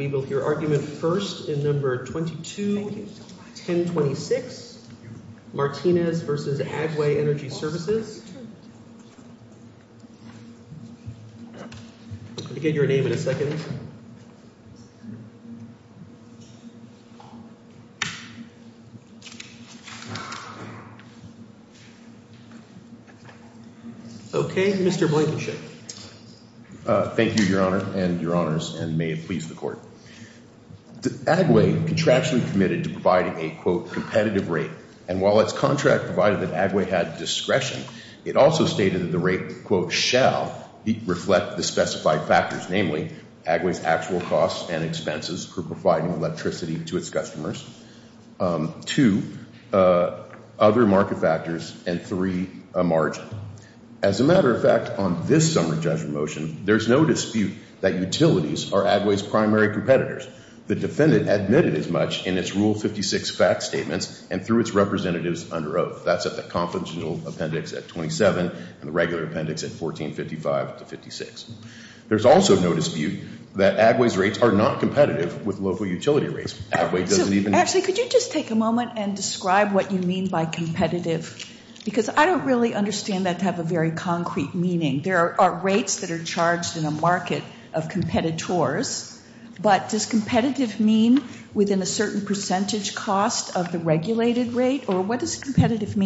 We will hear argument first in No. 22-1026, Martinez v. Agway Energy Services. I'll get your name in a second. Okay, Mr. Blankenship. Thank you, Your Honor and Your Honors, and may it please the Court. Agway contractually committed to providing a, quote, competitive rate, and while its contract provided that Agway had discretion, it also stated that the rate, quote, shall reflect the specified factors, namely, Agway's actual costs and expenses for providing electricity to its customers, two, other market factors, and three, a margin. As a matter of fact, on this summary judgment motion, there's no dispute that utilities are Agway's primary competitors. The defendant admitted as much in its Rule 56 fact statements and through its representatives under oath. That's at the confidential appendix at 27 and the regular appendix at 1455-56. There's also no dispute that Agway's rates are not competitive with local utility rates. Actually, could you just take a moment and describe what you mean by competitive? Because I don't really understand that to have a very concrete meaning. There are rates that are charged in a market of competitors, but does competitive mean within a certain percentage cost of the regulated rate, or what does that mean? Competitive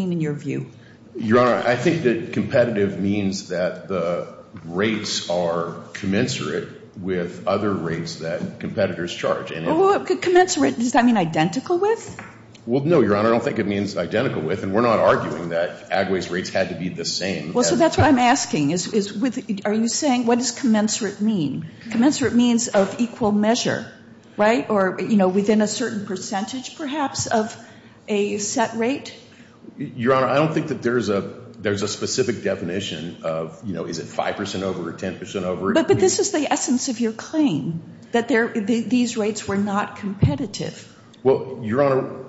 means that the rates are commensurate with other rates that competitors charge. Well, commensurate, does that mean identical with? Well, no, Your Honor, I don't think it means identical with, and we're not arguing that Agway's rates had to be the same. Well, so that's what I'm asking. Are you saying, what does commensurate mean? Commensurate means of equal measure, right? Or, you know, within a certain specific definition of, you know, is it 5% over or 10% over? But this is the essence of your claim, that these rates were not competitive. Well, Your Honor,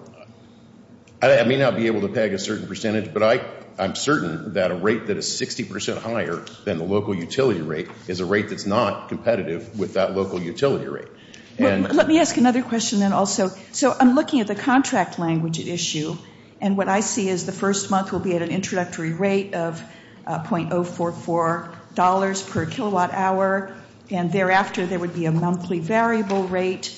I may not be able to peg a certain percentage, but I'm certain that a rate that is 60% higher than the local utility rate is a rate that's not competitive with that local utility rate. Let me ask another question then also. So I'm looking at the contract language issue, and what I see is the first month will be at an introductory rate of .044 dollars per kilowatt hour, and thereafter there would be a monthly variable rate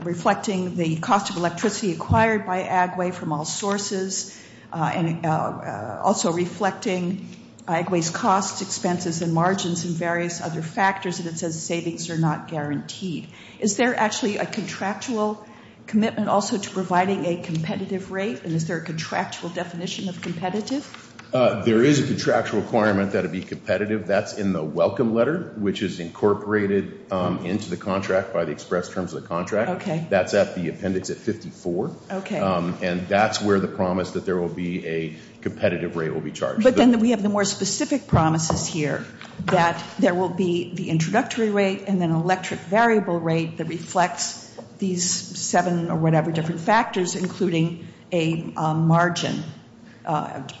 reflecting the cost of electricity acquired by Agway from all sources, and also reflecting Agway's costs, expenses, and margins and various other factors, and it says savings are not guaranteed. Is there actually a contractual commitment also to providing a competitive rate, and is there a contractual definition of competitive? There is a contractual requirement that it be competitive. That's in the welcome letter, which is incorporated into the contract by the express terms of the contract. That's at the appendix at 54. Okay. And that's where the promise that there will be a competitive rate will be charged. But then we have the more specific promises here that there will be the introductory rate and an electric variable rate that reflects these seven or whatever different factors, including a margin,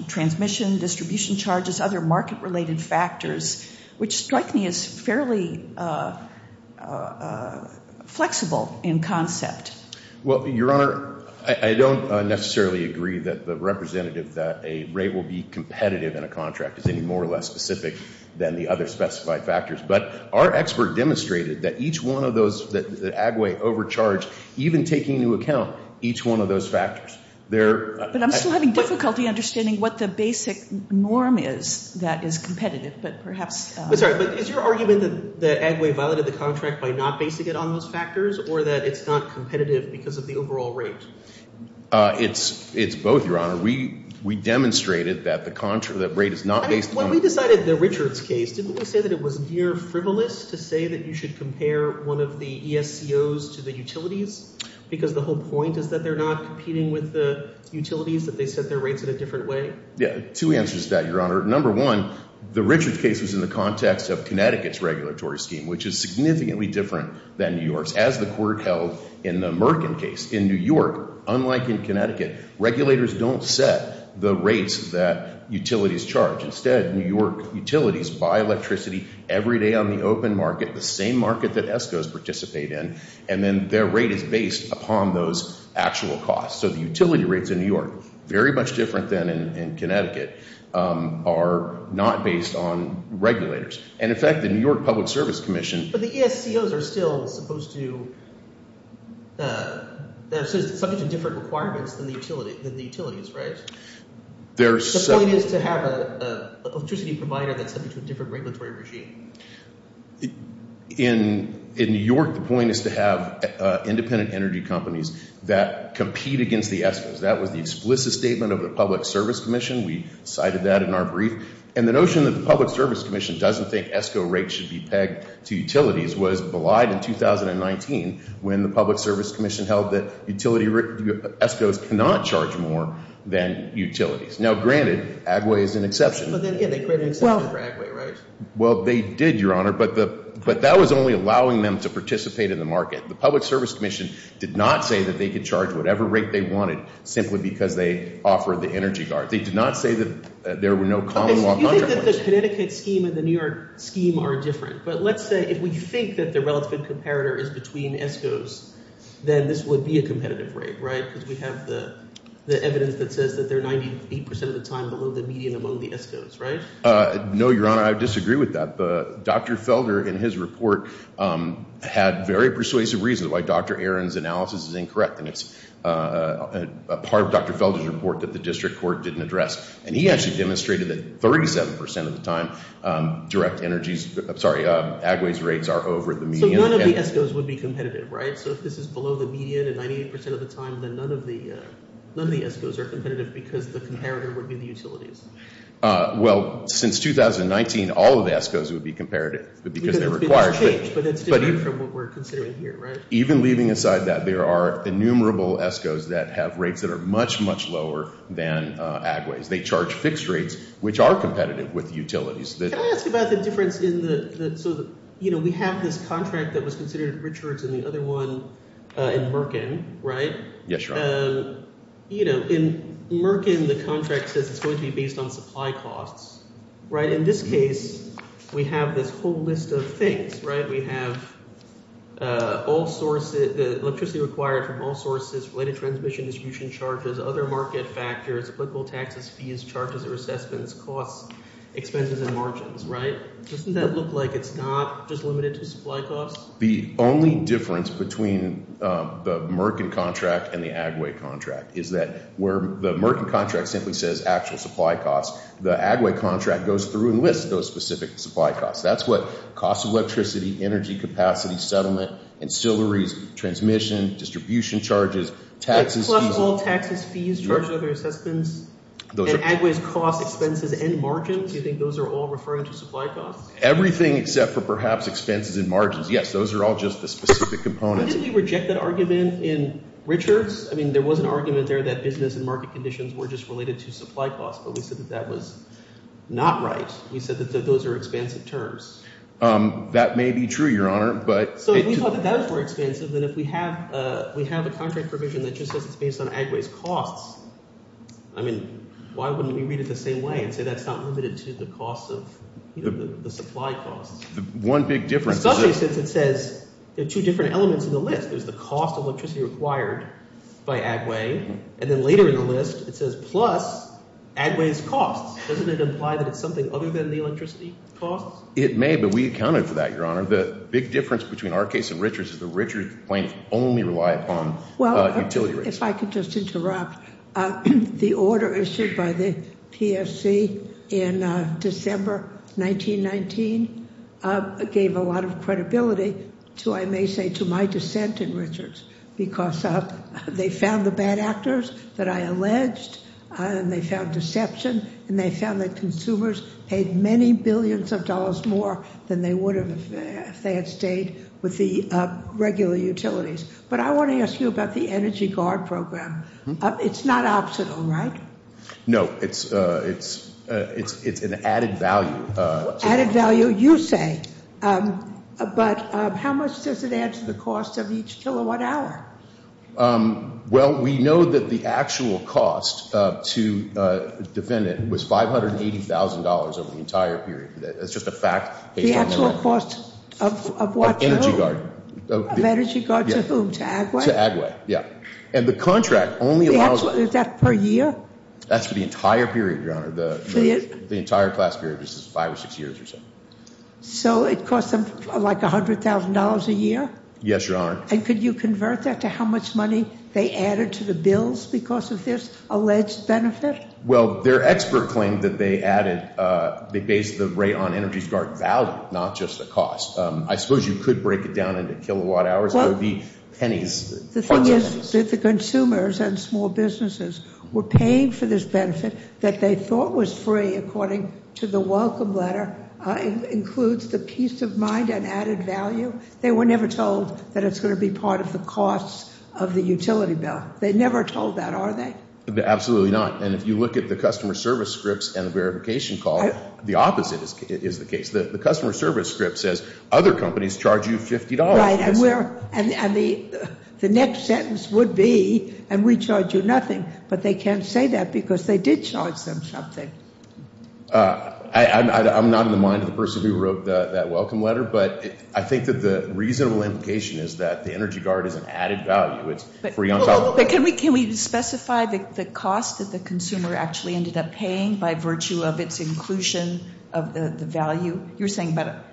transmission, distribution charges, other market-related factors, which strike me as fairly flexible in concept. Well, Your Honor, I don't necessarily agree that the representative that a rate will be competitive in a contract is any more or less specific than the other specified factors, but our expert demonstrated that each one of those, that Agway overcharged even taking into account each one of those factors. But I'm still having difficulty understanding what the basic norm is that is competitive, but perhaps... I'm sorry, but is your argument that Agway violated the contract by not basing it on those factors or that it's not competitive because of the overall rate? It's both, Your Honor. We demonstrated that the rate is not based on... When we decided the Richards case, didn't we say that it was near frivolous to say that you should compare one of the ESCOs to the utilities because the whole point is that they're not competing with the utilities, that they set their rates in a different way? Two answers to that, Your Honor. Number one, the Richards case was in the context of Connecticut's regulatory scheme, which is significantly different than New York's. As the court held in the Merkin case, in New York, unlike in Connecticut, regulators don't set the rates that utilities charge. Instead, New York utilities buy electricity every day on the open market, the same market that ESCOs participate in, and then their rate is based upon those actual costs. So the utility rates in New York, very much different than in Connecticut, are not based on regulators. And in fact, the New York Public Service Commission... But the ESCOs are still supposed to... They're subject to different requirements than the utilities, right? The point is to have an electricity provider that's subject to a different regulatory regime. In New York, the point is to have independent energy companies that compete against the ESCOs. That was the explicit statement of the Public Service Commission. We cited that in our brief. And the notion that the Public Service Commission doesn't think ESCO rates should be pegged to utilities was belied in the New York Public Service Commission. The Public Service Commission didn't think ESCO rates should be pegged to utilities. Now, granted, Agway is an exception. But then again, they created an exception for Agway, right? Well, they did, Your Honor, but that was only allowing them to participate in the market. The Public Service Commission did not say that they could charge whatever rate they wanted simply because they offered the energy guard. They did not say that there were no common law... You think that the Connecticut scheme and the New York scheme are different. But let's say if we think that the relative comparator is between ESCOs, then this would be a competitive rate, right? Because we have the evidence that says that they're 98% of the time below the median among the ESCOs, right? No, Your Honor, I disagree with that. But Dr. Felder in his report had very persuasive reasons as to why Dr. Aaron's analysis is incorrect. And it's a part of Dr. Felder's report that the district court didn't address. And he actually demonstrated that 37% of the time direct energy... I'm sorry, Agway's rates are over the median. So none of the ESCOs would be competitive, right? So if this is below the median at 98% of the time, then none of the ESCOs are competitive because the comparator would be the utilities. Well, since 2019, all of the ESCOs would be competitive because they're required. But that's different from what we're considering here, right? Even leaving aside that, there are innumerable ESCOs that have rates that are much, much lower than Agway's. They charge fixed rates, which are competitive with utilities. Can I ask about the difference in the... So, you know, we have this contract that was considered richer than the other one in Merkin, right? You know, in Merkin, the contract says it's going to be based on supply costs, right? In this case, we have this whole list of things, right? We have all sources, the electricity required from all sources, related transmission distribution charges, other market factors, applicable taxes, fees, charges or assessments, costs, expenses and margins, right? Doesn't that look like it's not just limited to supply costs? The only difference between the Merkin contract and the Agway contract is that where the Merkin contract simply says actual supply costs, the Agway contract goes through and lists those specific supply costs. That's what costs of electricity, energy capacity, settlement, ancillaries, transmission, distribution charges, taxes. Plus all taxes, fees, charges or assessments. And Agway's costs, expenses and margins, do you think those are all referring to supply costs? Everything except for perhaps expenses and margins. Yes, those are all just the specific components. Didn't you reject that argument in Richards? I mean, there was an argument there that business and market conditions were just related to supply costs. But we said that that was not right. We said that those are expensive terms. That may be true, Your Honor. So if we thought that those were expensive, then if we have a contract provision that just says it's based on Agway's costs, I mean, why wouldn't we read it the same way and say that's not limited to the costs of the supply costs? One big difference. Especially since it says there are two different elements in the list. There's the cost of electricity required by Agway. And then later in the list it says plus Agway's costs. Doesn't it imply that it's something other than the electricity costs? It may, but we accounted for that, Your Honor. The big difference between our case and Richards is that Richards plaintiffs only rely upon utility rates. If I could just interrupt. The order issued by the PSC in December 1919 gave a lot of credibility to, I may say, to my dissent in Richards. Because they found the bad actors that I alleged, and they found deception, and they found that consumers paid many billions of dollars more than they would have if they had stayed with the regular utilities. But I want to ask you about the Energy Guard program. It's not optional, right? No. It's an added value. Added value, you say. But how much does it add to the cost of each kilowatt hour? Well, we know that the actual cost to defend it was $580,000 over the entire period. That's just a fact. The actual cost of what to whom? Energy Guard. Of Energy Guard to whom? To Agway? To Agway, yeah. And the contract only allows- Is that per year? That's for the entire period, Your Honor. The entire class period is five or six years or so. So it costs them like $100,000 a year? Yes, Your Honor. And could you convert that to how much money they added to the bills because of this alleged benefit? Well, their expert claimed that they added, they based the rate on Energy Guard value, not just the cost. I suppose you could break it down into kilowatt hours. It would be pennies. The thing is that the consumers and small businesses were paying for this benefit that they thought was free, according to the welcome letter, includes the peace of mind and added value. They were never told that it's going to be part of the costs of the utility bill. They never told that, are they? Absolutely not. And if you look at the customer service scripts and the verification call, the opposite is the case. The customer service script says other companies charge you $50. And the next sentence would be, and we charge you nothing. But they can't say that because they did charge them something. I'm not in the mind of the person who wrote that welcome letter, but I think that the reasonable implication is that the Energy Guard is an added value. Can we specify the cost that the consumer actually ended up paying by virtue of its inclusion of the value? You're saying about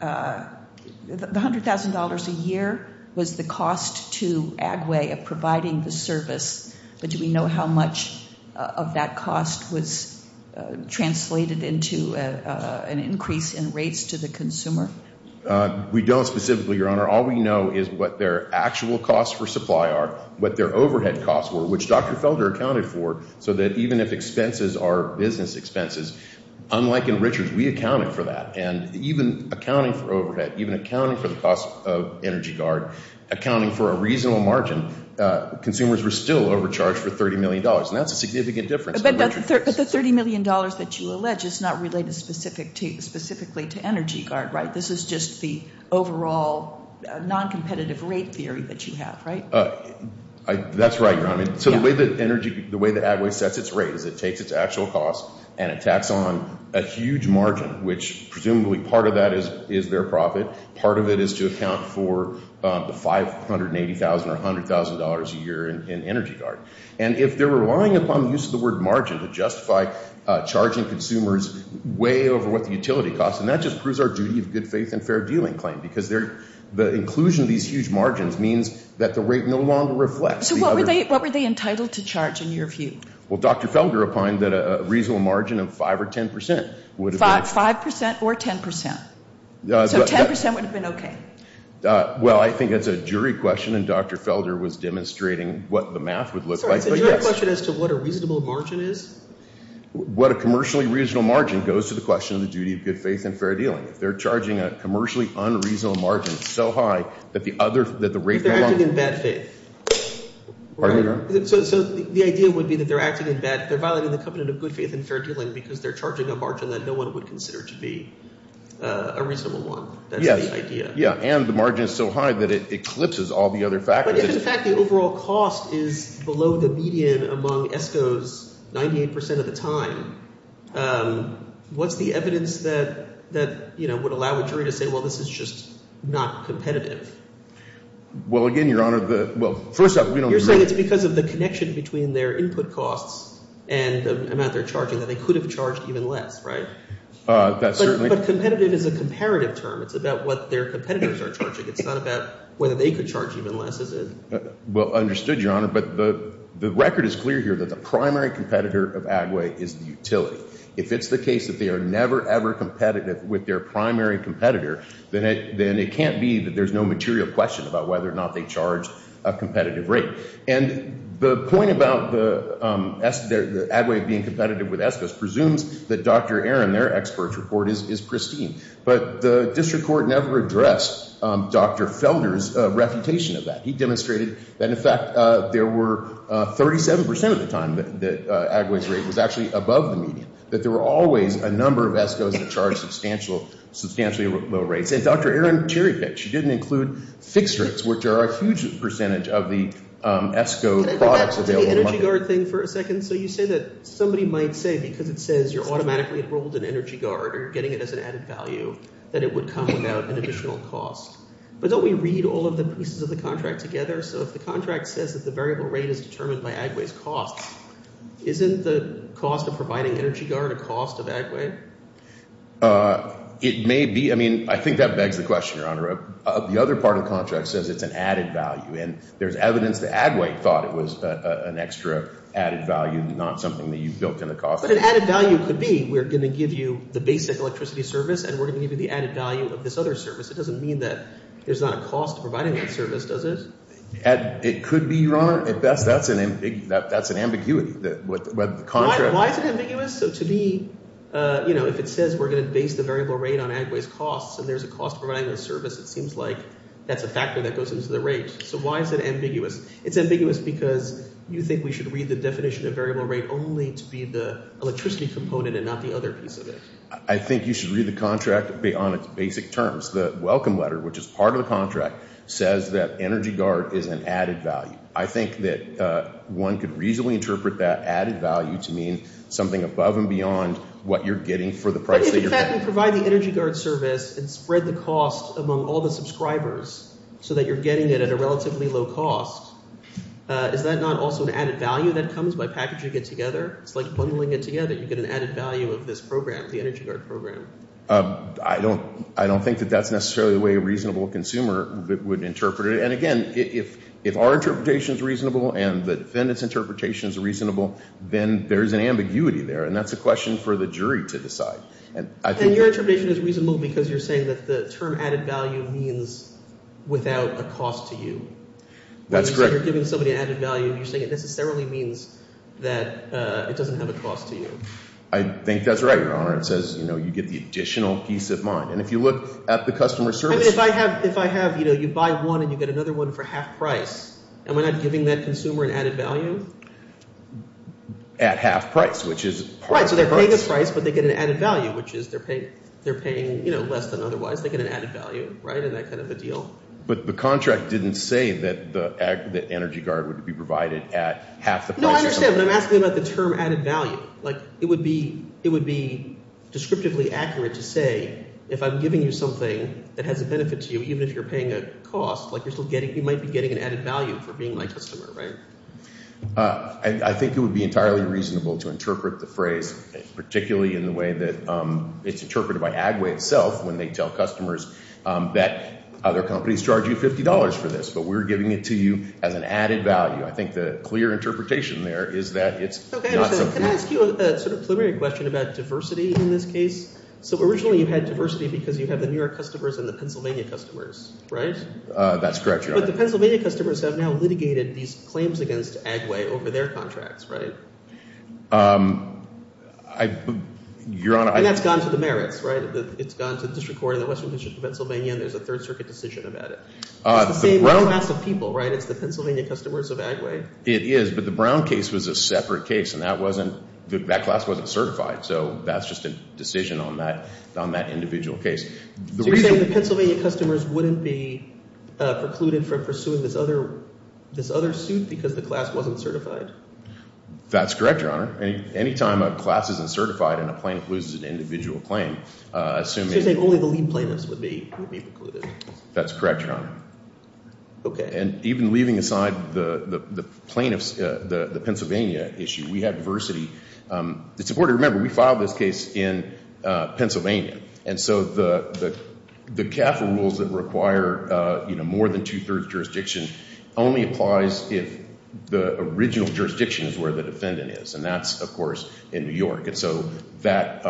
$100,000 a year was the cost to Agway of providing the service. But do we know how much of that cost was translated into an increase in rates to the consumer? All we know is what their actual costs for supply are, what their overhead costs were, which Dr. Felder accounted for so that even if expenses are business expenses, unlike in Richards, we accounted for that. And even accounting for overhead, even accounting for the cost of Energy Guard, accounting for a reasonable margin, consumers were still overcharged for $30 million, and that's a significant difference. But the $30 million that you allege is not related specifically to Energy Guard, right? This is just the overall noncompetitive rate theory that you have, right? That's right, Your Honor. So the way that Agway sets its rate is it takes its actual cost and it tacks on a huge margin, which presumably part of that is their profit. Part of it is to account for the $580,000 or $100,000 a year in Energy Guard. And if they're relying upon the use of the word margin to justify charging consumers way over what the utility costs, then that just proves our duty of good faith and fair dealing claim, because the inclusion of these huge margins means that the rate no longer reflects. So what were they entitled to charge in your view? Well, Dr. Felder opined that a reasonable margin of 5% or 10% would have been okay. 5% or 10%? So 10% would have been okay? Well, I think that's a jury question, and Dr. Felder was demonstrating what the math would look like. It's a jury question as to what a reasonable margin is? What a commercially reasonable margin goes to the question of the duty of good faith and fair dealing. If they're charging a commercially unreasonable margin so high that the other – that the rate no longer – But they're acting in bad faith. Pardon me, Your Honor? So the idea would be that they're acting in bad – they're violating the covenant of good faith and fair dealing because they're charging a margin that no one would consider to be a reasonable one. That's the idea. Yeah, and the margin is so high that it eclipses all the other factors. If, in fact, the overall cost is below the median among ESCOs 98% of the time, what's the evidence that would allow a jury to say, well, this is just not competitive? Well, again, Your Honor, the – well, first off, we don't – You're saying it's because of the connection between their input costs and the amount they're charging that they could have charged even less, right? That's certainly – But competitive is a comparative term. It's about what their competitors are charging. It's not about whether they could charge even less, is it? Well, understood, Your Honor, but the record is clear here that the primary competitor of Agway is the utility. If it's the case that they are never, ever competitive with their primary competitor, then it can't be that there's no material question about whether or not they charge a competitive rate. And the point about the Agway being competitive with ESCOs presumes that Dr. Aaron, their expert report, is pristine. But the district court never addressed Dr. Felder's refutation of that. He demonstrated that, in fact, there were 37% of the time that Agway's rate was actually above the median, that there were always a number of ESCOs that charged substantially low rates. And Dr. Aaron cherry-picked. She didn't include fixed rates, which are a huge percentage of the ESCO products available. Can I go back to the energy guard thing for a second? So you say that somebody might say because it says you're automatically enrolled in energy guard or getting it as an added value that it would come without an additional cost. But don't we read all of the pieces of the contract together? So if the contract says that the variable rate is determined by Agway's cost, isn't the cost of providing energy guard a cost of Agway? It may be. I mean, I think that begs the question, Your Honor. The other part of the contract says it's an added value, and there's evidence that Agway thought it was an extra added value, not something that you built in the cost. But an added value could be we're going to give you the basic electricity service and we're going to give you the added value of this other service. It doesn't mean that there's not a cost of providing that service, does it? It could be, Your Honor, at best. That's an ambiguity. Why is it ambiguous? So to me, you know, if it says we're going to base the variable rate on Agway's costs and there's a cost of providing the service, it seems like that's a factor that goes into the rate. So why is it ambiguous? It's ambiguous because you think we should read the definition of variable rate only to be the electricity component and not the other piece of it. I think you should read the contract on its basic terms. The welcome letter, which is part of the contract, says that energy guard is an added value. I think that one could reasonably interpret that added value to mean something above and beyond what you're getting for the price that you're paying. If you can provide the energy guard service and spread the cost among all the subscribers so that you're getting it at a relatively low cost, is that not also an added value that comes by packaging it together? It's like bundling it together. You get an added value of this program, the energy guard program. I don't think that that's necessarily the way a reasonable consumer would interpret it. And, again, if our interpretation is reasonable and the defendant's interpretation is reasonable, then there's an ambiguity there, and that's a question for the jury to decide. And your interpretation is reasonable because you're saying that the term added value means without a cost to you. That's correct. When you say you're giving somebody an added value, you're saying it necessarily means that it doesn't have a cost to you. I think that's right, Your Honor. It says you get the additional piece of mind. And if you look at the customer service – I mean if I have – if I have – you buy one and you get another one for half price, am I not giving that consumer an added value? At half price, which is – Right, so they're paying a price, but they get an added value, which is they're paying less than otherwise. They get an added value in that kind of a deal. But the contract didn't say that the energy guard would be provided at half the price. No, I understand, but I'm asking about the term added value. Like it would be descriptively accurate to say if I'm giving you something that has a benefit to you, even if you're paying a cost, like you're still getting – you might be getting an added value for being my customer, right? I think it would be entirely reasonable to interpret the phrase, particularly in the way that it's interpreted by Agway itself when they tell customers that other companies charge you $50 for this. But we're giving it to you as an added value. I think the clear interpretation there is that it's not something – Can I ask you a sort of preliminary question about diversity in this case? So originally you had diversity because you have the New York customers and the Pennsylvania customers, right? That's correct, Your Honor. But the Pennsylvania customers have now litigated these claims against Agway over their contracts, right? Your Honor, I – And that's gone to the merits, right? It's gone to district court in the Western District of Pennsylvania, and there's a Third Circuit decision about it. It's the same class of people, right? It's the Pennsylvania customers of Agway. It is, but the Brown case was a separate case, and that wasn't – that class wasn't certified. So that's just a decision on that individual case. So you're saying the Pennsylvania customers wouldn't be precluded from pursuing this other suit because the class wasn't certified? That's correct, Your Honor. Any time a class isn't certified and a plaintiff loses an individual claim, assuming – So you're saying only the lead plaintiffs would be precluded? That's correct, Your Honor. Okay. And even leaving aside the plaintiffs, the Pennsylvania issue, we had diversity. It's important to remember we filed this case in Pennsylvania. And so the CAFA rules that require more than two-thirds jurisdiction only applies if the original jurisdiction is where the defendant is, and that's, of course, in New York. And so that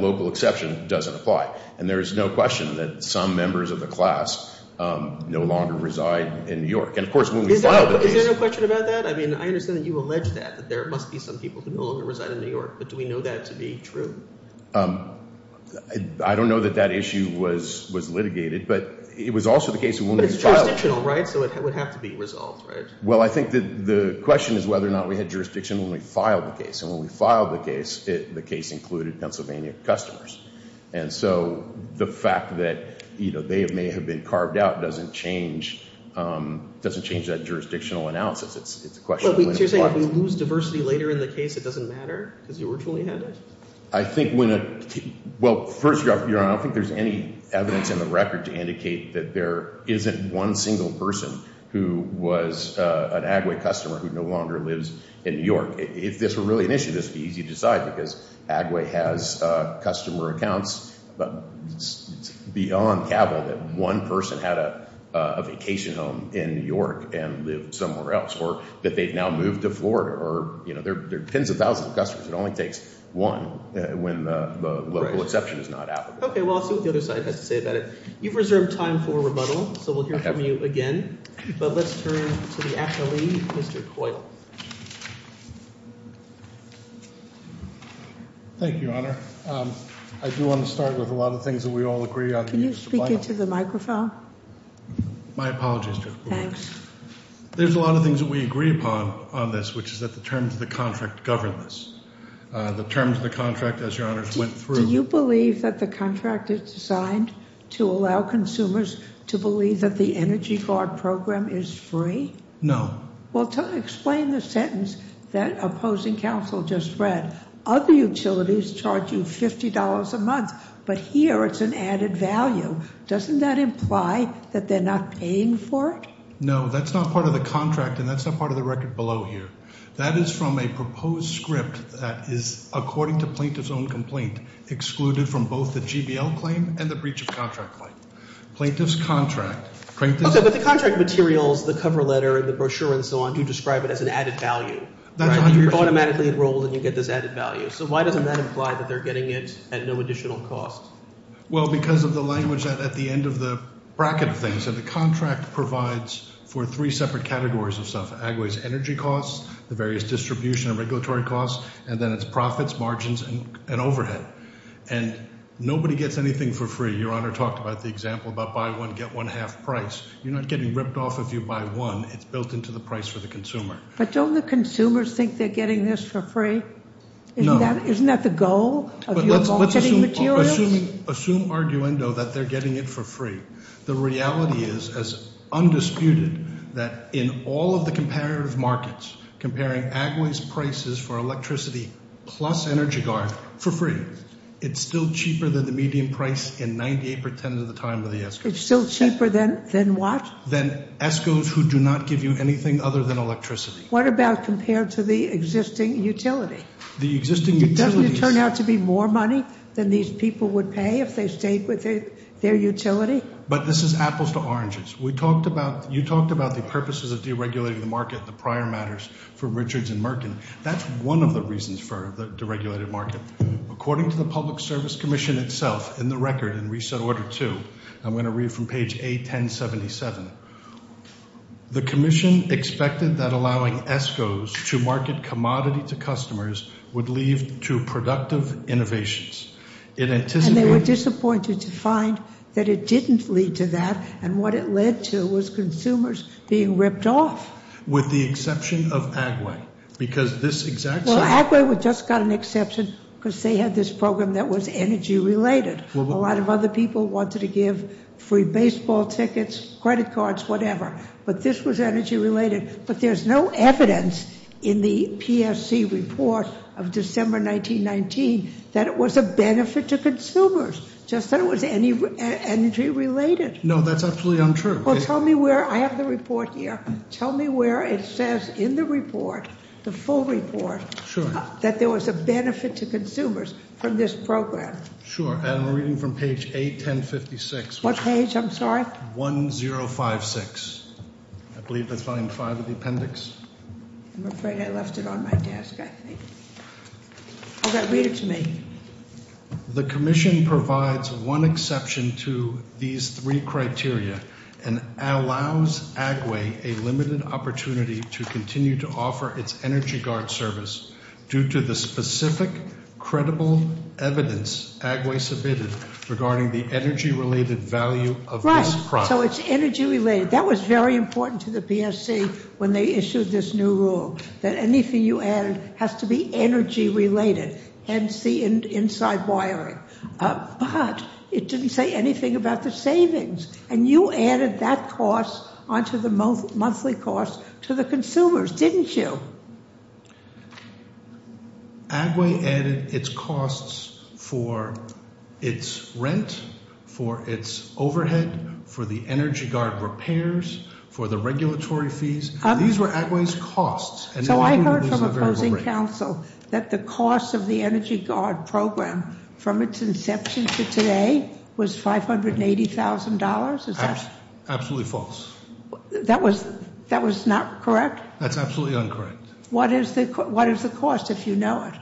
local exception doesn't apply. And there is no question that some members of the class no longer reside in New York. And, of course, when we filed the case – Is there no question about that? I mean, I understand that you allege that, that there must be some people who no longer reside in New York. But do we know that to be true? I don't know that that issue was litigated, but it was also the case when we filed it. But it's jurisdictional, right? So it would have to be resolved, right? Well, I think the question is whether or not we had jurisdiction when we filed the case. And when we filed the case, the case included Pennsylvania customers. And so the fact that, you know, they may have been carved out doesn't change that jurisdictional analysis. It's a question of when it applies. So you're saying if we lose diversity later in the case, it doesn't matter because you originally had it? I think when a – well, first, Your Honor, I don't think there's any evidence in the record to indicate that there isn't one single person who was an Agway customer who no longer lives in New York. If this were really an issue, this would be easy to decide because Agway has customer accounts. But it's beyond capital that one person had a vacation home in New York and lived somewhere else. Or that they've now moved to Florida. Or, you know, there are tens of thousands of customers. It only takes one when the local exception is not applicable. Okay. Well, I'll see what the other side has to say about it. You've reserved time for rebuttal, so we'll hear from you again. But let's turn to the affilee, Mr. Coyle. Thank you, Your Honor. I do want to start with a lot of things that we all agree on. Can you speak into the microphone? My apologies, Justice Kagan. Thanks. There's a lot of things that we agree upon on this, which is that the terms of the contract govern this. The terms of the contract, as Your Honors went through. Do you believe that the contract is designed to allow consumers to believe that the Energy Guard program is free? No. Well, explain the sentence that opposing counsel just read. Other utilities charge you $50 a month, but here it's an added value. Doesn't that imply that they're not paying for it? No, that's not part of the contract, and that's not part of the record below here. That is from a proposed script that is, according to plaintiff's own complaint, excluded from both the GBL claim and the breach of contract claim. Plaintiff's contract. Okay, but the contract materials, the cover letter and the brochure and so on, do describe it as an added value. You're automatically enrolled and you get this added value. So why doesn't that imply that they're getting it at no additional cost? Well, because of the language at the end of the bracket of things. The contract provides for three separate categories of stuff. Agway's energy costs, the various distribution and regulatory costs, and then it's profits, margins, and overhead. And nobody gets anything for free. Your Honor talked about the example about buy one, get one half price. You're not getting ripped off if you buy one. It's built into the price for the consumer. But don't the consumers think they're getting this for free? No. Isn't that the goal of your bulkheading materials? Assume arguendo that they're getting it for free. The reality is, as undisputed, that in all of the comparative markets, comparing Agway's prices for electricity plus energy guard for free, it's still cheaper than the median price in 98% of the time of the ESCOs. It's still cheaper than what? Than ESCOs who do not give you anything other than electricity. What about compared to the existing utility? Doesn't it turn out to be more money than these people would pay if they stayed with their utility? But this is apples to oranges. You talked about the purposes of deregulating the market, the prior matters for Richards and Merkin. That's one of the reasons for the deregulated market. According to the Public Service Commission itself, in the record in Reset Order 2, I'm going to read from page A1077. The commission expected that allowing ESCOs to market commodity to customers would lead to productive innovations. And they were disappointed to find that it didn't lead to that, and what it led to was consumers being ripped off. With the exception of Agway. Well, Agway just got an exception because they had this program that was energy-related. A lot of other people wanted to give free baseball tickets, credit cards, whatever. But this was energy-related. But there's no evidence in the PSC report of December 1919 that it was a benefit to consumers, just that it was energy-related. No, that's absolutely untrue. Well, tell me where – I have the report here. Tell me where it says in the report, the full report, that there was a benefit to consumers from this program. Sure, and I'm reading from page A1056. What page, I'm sorry? 1056. I believe that's line five of the appendix. I'm afraid I left it on my desk, I think. Okay, read it to me. The commission provides one exception to these three criteria and allows Agway a limited opportunity to continue to offer its energy guard service due to the specific credible evidence Agway submitted regarding the energy-related value of this product. Right, so it's energy-related. That was very important to the PSC when they issued this new rule, that anything you add has to be energy-related. Hence the inside wiring. But it didn't say anything about the savings, and you added that cost onto the monthly cost to the consumers, didn't you? Agway added its costs for its rent, for its overhead, for the energy guard repairs, for the regulatory fees. These were Agway's costs. So I heard from opposing counsel that the cost of the energy guard program from its inception to today was $580,000, is that? Absolutely false. That was not correct? That's absolutely incorrect. What is the cost if you know it?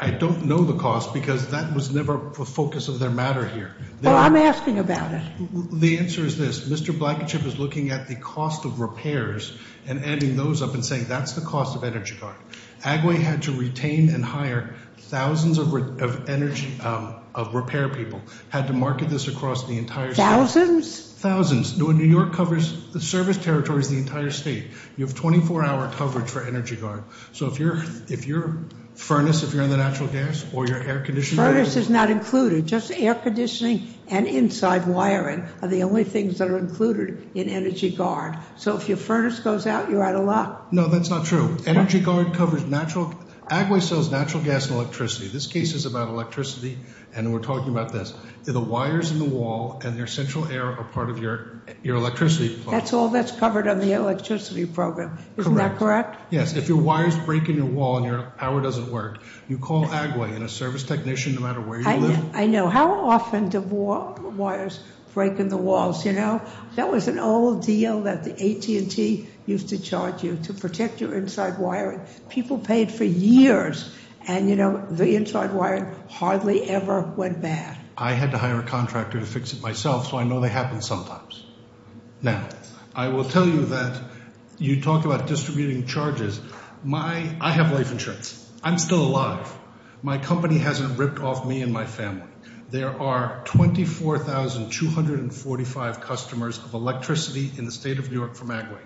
I don't know the cost because that was never the focus of their matter here. Well, I'm asking about it. The answer is this. Mr. Blankenship is looking at the cost of repairs and adding those up and saying that's the cost of energy guard. Agway had to retain and hire thousands of repair people, had to market this across the entire state. Thousands? Thousands. New York covers the service territories of the entire state. You have 24-hour coverage for energy guard. So if your furnace, if you're on the natural gas or your air conditioning- are the only things that are included in energy guard. So if your furnace goes out, you're out of luck. No, that's not true. Energy guard covers natural, Agway sells natural gas and electricity. This case is about electricity, and we're talking about this. The wires in the wall and your central air are part of your electricity. That's all that's covered on the electricity program. Correct. Isn't that correct? Yes. If your wires break in your wall and your power doesn't work, you call Agway and a service technician, no matter where you live- I know. How often do wires break in the walls, you know? That was an old deal that the AT&T used to charge you to protect your inside wiring. People paid for years, and you know, the inside wiring hardly ever went bad. I had to hire a contractor to fix it myself, so I know they happen sometimes. Now, I will tell you that you talk about distributing charges. I have life insurance. I'm still alive. My company hasn't ripped off me and my family. There are 24,245 customers of electricity in the state of New York from Agway.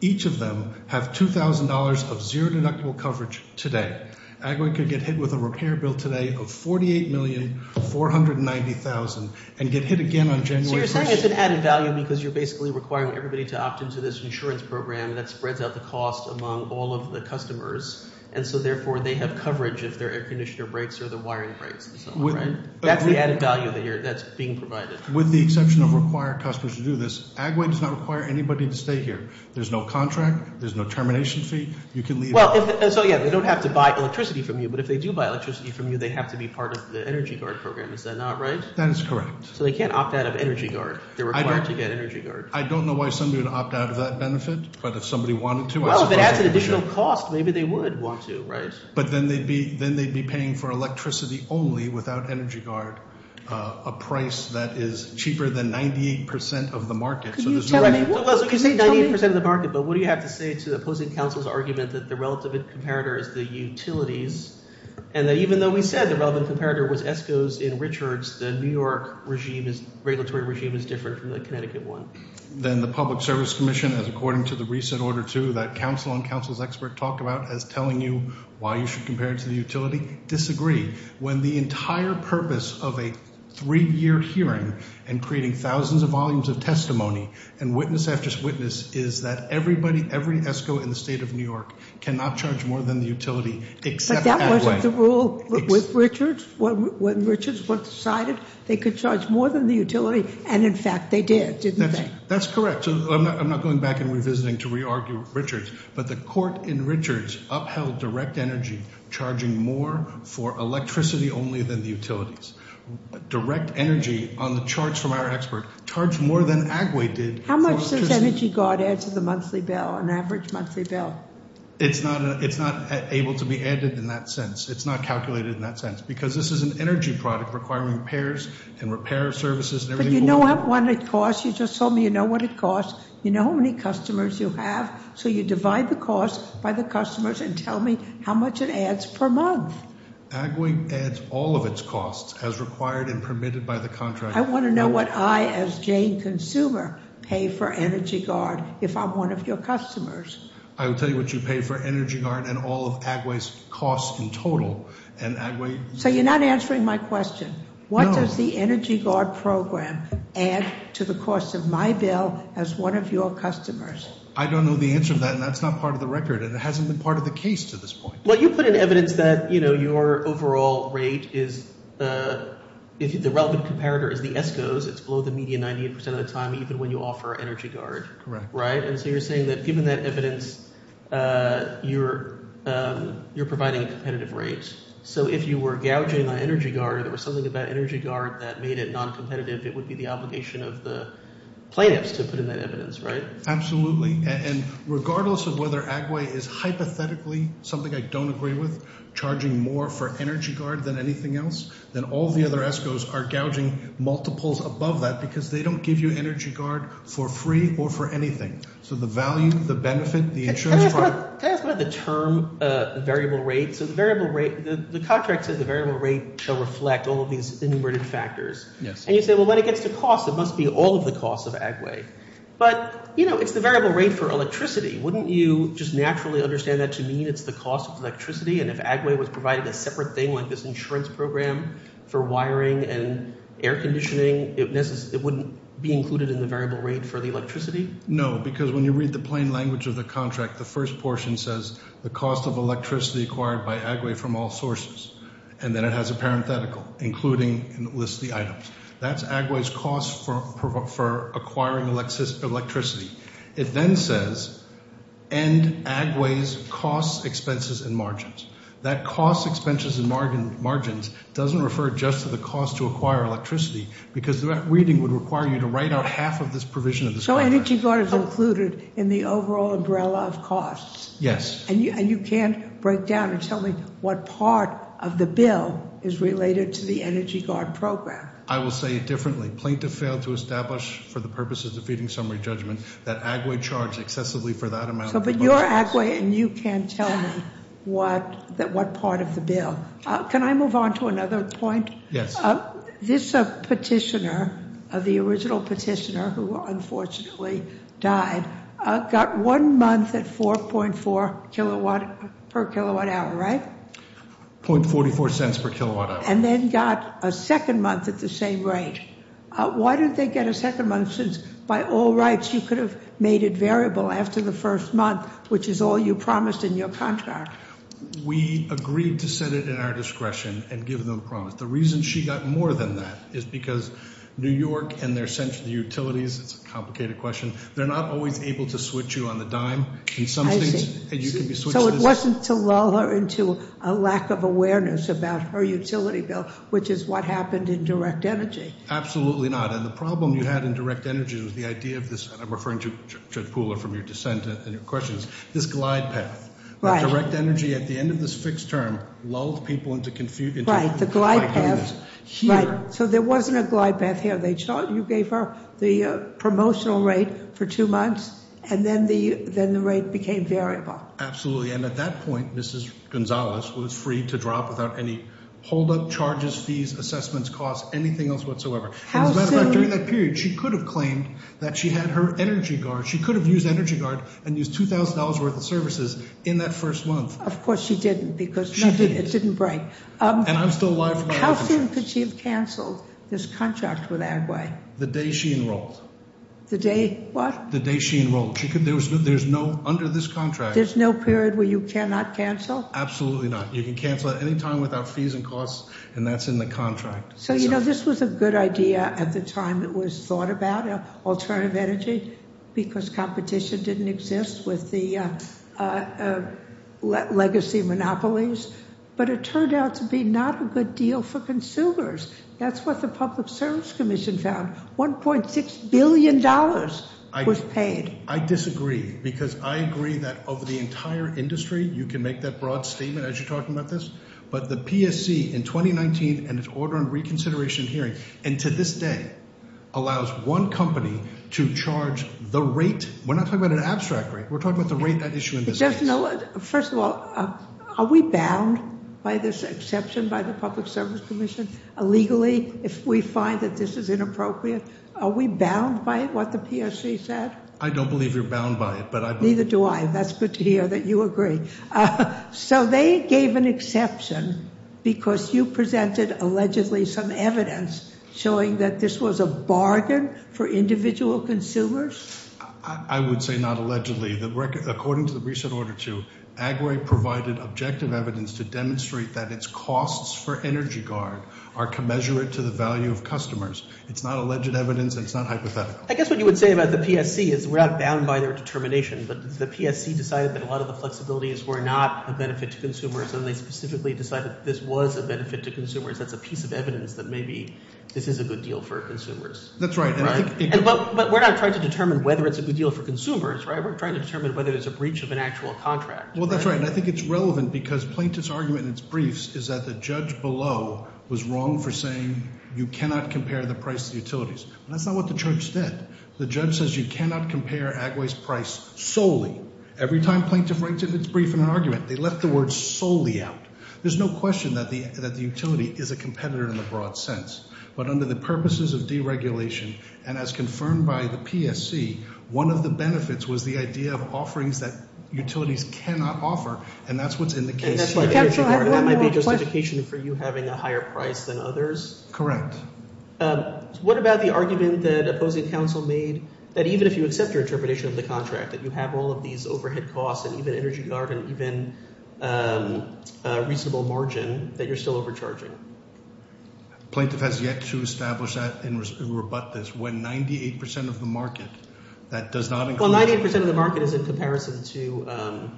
Each of them have $2,000 of zero deductible coverage today. Agway could get hit with a repair bill today of $48,490,000 and get hit again on January 1st. So you're saying it's an added value because you're basically requiring everybody to opt into this insurance program, and that spreads out the cost among all of the customers. And so therefore they have coverage if their air conditioner breaks or their wiring breaks. That's the added value that's being provided. With the exception of required customers to do this, Agway does not require anybody to stay here. There's no contract. There's no termination fee. You can leave. So, yeah, they don't have to buy electricity from you, but if they do buy electricity from you, they have to be part of the Energy Guard program. Is that not right? That is correct. So they can't opt out of Energy Guard. They're required to get Energy Guard. I don't know why somebody would opt out of that benefit, but if somebody wanted to, I suppose they should. At the same cost, maybe they would want to, right? But then they'd be paying for electricity only without Energy Guard, a price that is cheaper than 98% of the market. Can you tell me what – Well, you say 98% of the market, but what do you have to say to opposing counsel's argument that the relative comparator is the utilities, and that even though we said the relevant comparator was ESCO's in Richards, the New York regime is – regulatory regime is different from the Connecticut one? Then the Public Service Commission, as according to the recent Order 2 that counsel and counsel's expert talked about as telling you why you should compare it to the utility, disagree. When the entire purpose of a three-year hearing and creating thousands of volumes of testimony and witness after witness is that everybody, every ESCO in the state of New York cannot charge more than the utility except that way. But that wasn't the rule with Richards when Richards decided they could charge more than the utility, and in fact they did, didn't they? That's correct. I'm not going back and revisiting to re-argue Richards. But the court in Richards upheld direct energy charging more for electricity only than the utilities. Direct energy on the charts from our expert charged more than Agway did for electricity. How much does Energy Guard add to the monthly bill, an average monthly bill? It's not able to be added in that sense. It's not calculated in that sense because this is an energy product requiring repairs and repair services and everything. But you know what it costs. You just told me you know what it costs. You know how many customers you have, so you divide the cost by the customers and tell me how much it adds per month. Agway adds all of its costs as required and permitted by the contract. I want to know what I, as Jane Consumer, pay for Energy Guard if I'm one of your customers. I will tell you what you pay for Energy Guard and all of Agway's costs in total. So you're not answering my question. What does the Energy Guard program add to the cost of my bill as one of your customers? I don't know the answer to that, and that's not part of the record, and it hasn't been part of the case to this point. Well, you put in evidence that, you know, your overall rate is, if the relevant comparator is the ESCOs, it's below the median 98% of the time even when you offer Energy Guard. Correct. Right, and so you're saying that given that evidence, you're providing a competitive rate. So if you were gouging on Energy Guard or something about Energy Guard that made it noncompetitive, it would be the obligation of the plaintiffs to put in that evidence, right? Absolutely, and regardless of whether Agway is hypothetically something I don't agree with, charging more for Energy Guard than anything else, then all the other ESCOs are gouging multiples above that because they don't give you Energy Guard for free or for anything. So the value, the benefit, the insurance price. Can I ask about the term variable rate? So the variable rate, the contract says the variable rate will reflect all of these inverted factors. Yes. And you say, well, when it gets to cost, it must be all of the costs of Agway. But, you know, it's the variable rate for electricity. And if Agway was providing a separate thing like this insurance program for wiring and air conditioning, it wouldn't be included in the variable rate for the electricity? No, because when you read the plain language of the contract, the first portion says the cost of electricity acquired by Agway from all sources. And then it has a parenthetical, including, and it lists the items. That's Agway's cost for acquiring electricity. It then says end Agway's cost, expenses, and margins. That cost, expenses, and margins doesn't refer just to the cost to acquire electricity because that reading would require you to write out half of this provision of this contract. So Energy Guard is included in the overall umbrella of costs? Yes. And you can't break down and tell me what part of the bill is related to the Energy Guard program? I will say it differently. The plaintiff failed to establish for the purposes of defeating summary judgment that Agway charged excessively for that amount of devices. But you're Agway and you can't tell me what part of the bill. Can I move on to another point? Yes. This petitioner, the original petitioner who unfortunately died, got one month at 4.4 kilowatt per kilowatt hour, right? .44 cents per kilowatt hour. And then got a second month at the same rate. Why didn't they get a second month since by all rights you could have made it variable after the first month, which is all you promised in your contract? We agreed to set it at our discretion and give them a promise. The reason she got more than that is because New York and their central utilities, it's a complicated question, they're not always able to switch you on the dime. I see. So it wasn't to lull her into a lack of awareness about her utility bill, which is what happened in direct energy. Absolutely not. And the problem you had in direct energy was the idea of this, and I'm referring to Judge Pooler from your dissent and your questions, this glide path. The direct energy at the end of this fixed term lulled people into confusion. Right, the glide path. So there wasn't a glide path here. You gave her the promotional rate for two months and then the rate became variable. Absolutely. And at that point, Mrs. Gonzalez was free to drop without any holdup charges, fees, assessments, costs, anything else whatsoever. As a matter of fact, during that period, she could have claimed that she had her energy guard, she could have used energy guard and used $2,000 worth of services in that first month. Of course she didn't because it didn't break. And I'm still alive. How soon could she have canceled this contract with Agway? The day she enrolled. The day what? The day she enrolled. Under this contract. There's no period where you cannot cancel? Absolutely not. You can cancel at any time without fees and costs, and that's in the contract. So, you know, this was a good idea at the time it was thought about, alternative energy, because competition didn't exist with the legacy monopolies. But it turned out to be not a good deal for consumers. That's what the Public Service Commission found. $1.6 billion was paid. I disagree because I agree that of the entire industry, you can make that broad statement as you're talking about this, but the PSC in 2019 and its order and reconsideration hearing, and to this day, allows one company to charge the rate. We're not talking about an abstract rate. We're talking about the rate that issue exists. First of all, are we bound by this exception by the Public Service Commission illegally if we find that this is inappropriate? Are we bound by what the PSC said? I don't believe you're bound by it. Neither do I. That's good to hear that you agree. So they gave an exception because you presented allegedly some evidence showing that this was a bargain for individual consumers? I would say not allegedly. According to the recent order, too, Agway provided objective evidence to demonstrate that its costs for Energy Guard are commensurate to the value of customers. It's not alleged evidence, and it's not hypothetical. I guess what you would say about the PSC is we're not bound by their determination, but the PSC decided that a lot of the flexibilities were not a benefit to consumers, and they specifically decided this was a benefit to consumers. That's a piece of evidence that maybe this is a good deal for consumers. That's right. But we're not trying to determine whether it's a good deal for consumers. We're trying to determine whether it's a breach of an actual contract. Well, that's right, and I think it's relevant because Plaintiff's argument in its briefs is that the judge below was wrong for saying you cannot compare the price to the utilities. That's not what the judge said. The judge says you cannot compare Agway's price solely. Every time Plaintiff writes in its brief in an argument, they left the word solely out. There's no question that the utility is a competitor in the broad sense, but under the purposes of deregulation and as confirmed by the PSC, one of the benefits was the idea of offerings that utilities cannot offer, and that's what's in the case here. Energy Guard, that might be justification for you having a higher price than others. Correct. What about the argument that opposing counsel made that even if you accept your interpretation of the contract, that you have all of these overhead costs and even Energy Guard and even a reasonable margin, that you're still overcharging? Plaintiff has yet to establish that and rebut this when 98 percent of the market that does not include- Well, 98 percent of the market is in comparison to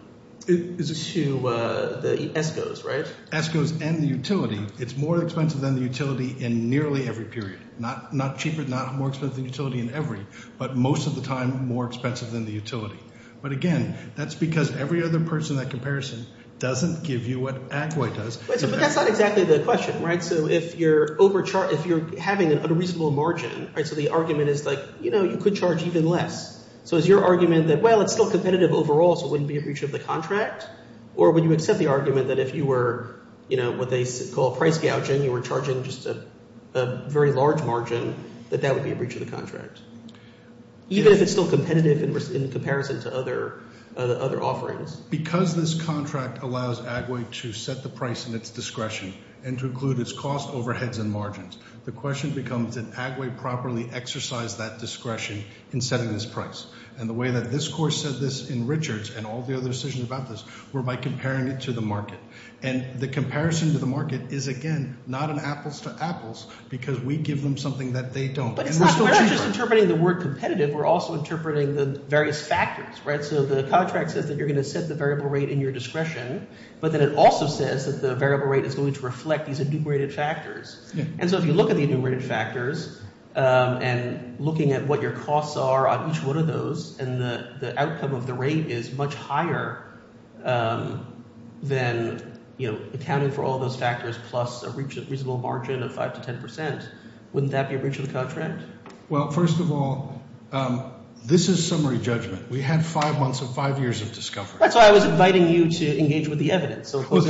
the ESCOs, right? ESCOs and the utility. It's more expensive than the utility in nearly every period. Not cheaper, not more expensive than the utility in every, but most of the time more expensive than the utility. But again, that's because every other person in that comparison doesn't give you what Agway does. But that's not exactly the question, right? So if you're having an unreasonable margin, so the argument is like you could charge even less. So is your argument that, well, it's still competitive overall, so it wouldn't be a breach of the contract? Or would you accept the argument that if you were what they call price gouging, you were charging just a very large margin, that that would be a breach of the contract, even if it's still competitive in comparison to other offerings? Because this contract allows Agway to set the price in its discretion and to include its cost, overheads, and margins, the question becomes did Agway properly exercise that discretion in setting this price? And the way that this course said this in Richards and all the other decisions about this were by comparing it to the market. And the comparison to the market is, again, not an apples to apples because we give them something that they don't. But it's not just interpreting the word competitive. We're also interpreting the various factors, right? So the contract says that you're going to set the variable rate in your discretion, but then it also says that the variable rate is going to reflect these enumerated factors. And so if you look at the enumerated factors and looking at what your costs are on each one of those and the outcome of the rate is much higher than accounting for all those factors plus a reasonable margin of 5 to 10 percent, wouldn't that be a breach of the contract? Well, first of all, this is summary judgment. We had five months and five years of discovery. That's why I was inviting you to engage with the evidence. You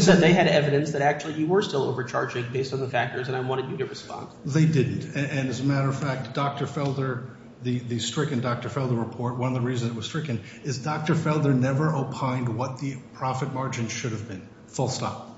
said they had evidence that actually you were still overcharging based on the factors, and I wanted you to respond. They didn't. And as a matter of fact, Dr. Felder, the stricken Dr. Felder report, one of the reasons it was stricken, is Dr. Felder never opined what the profit margin should have been, full stop.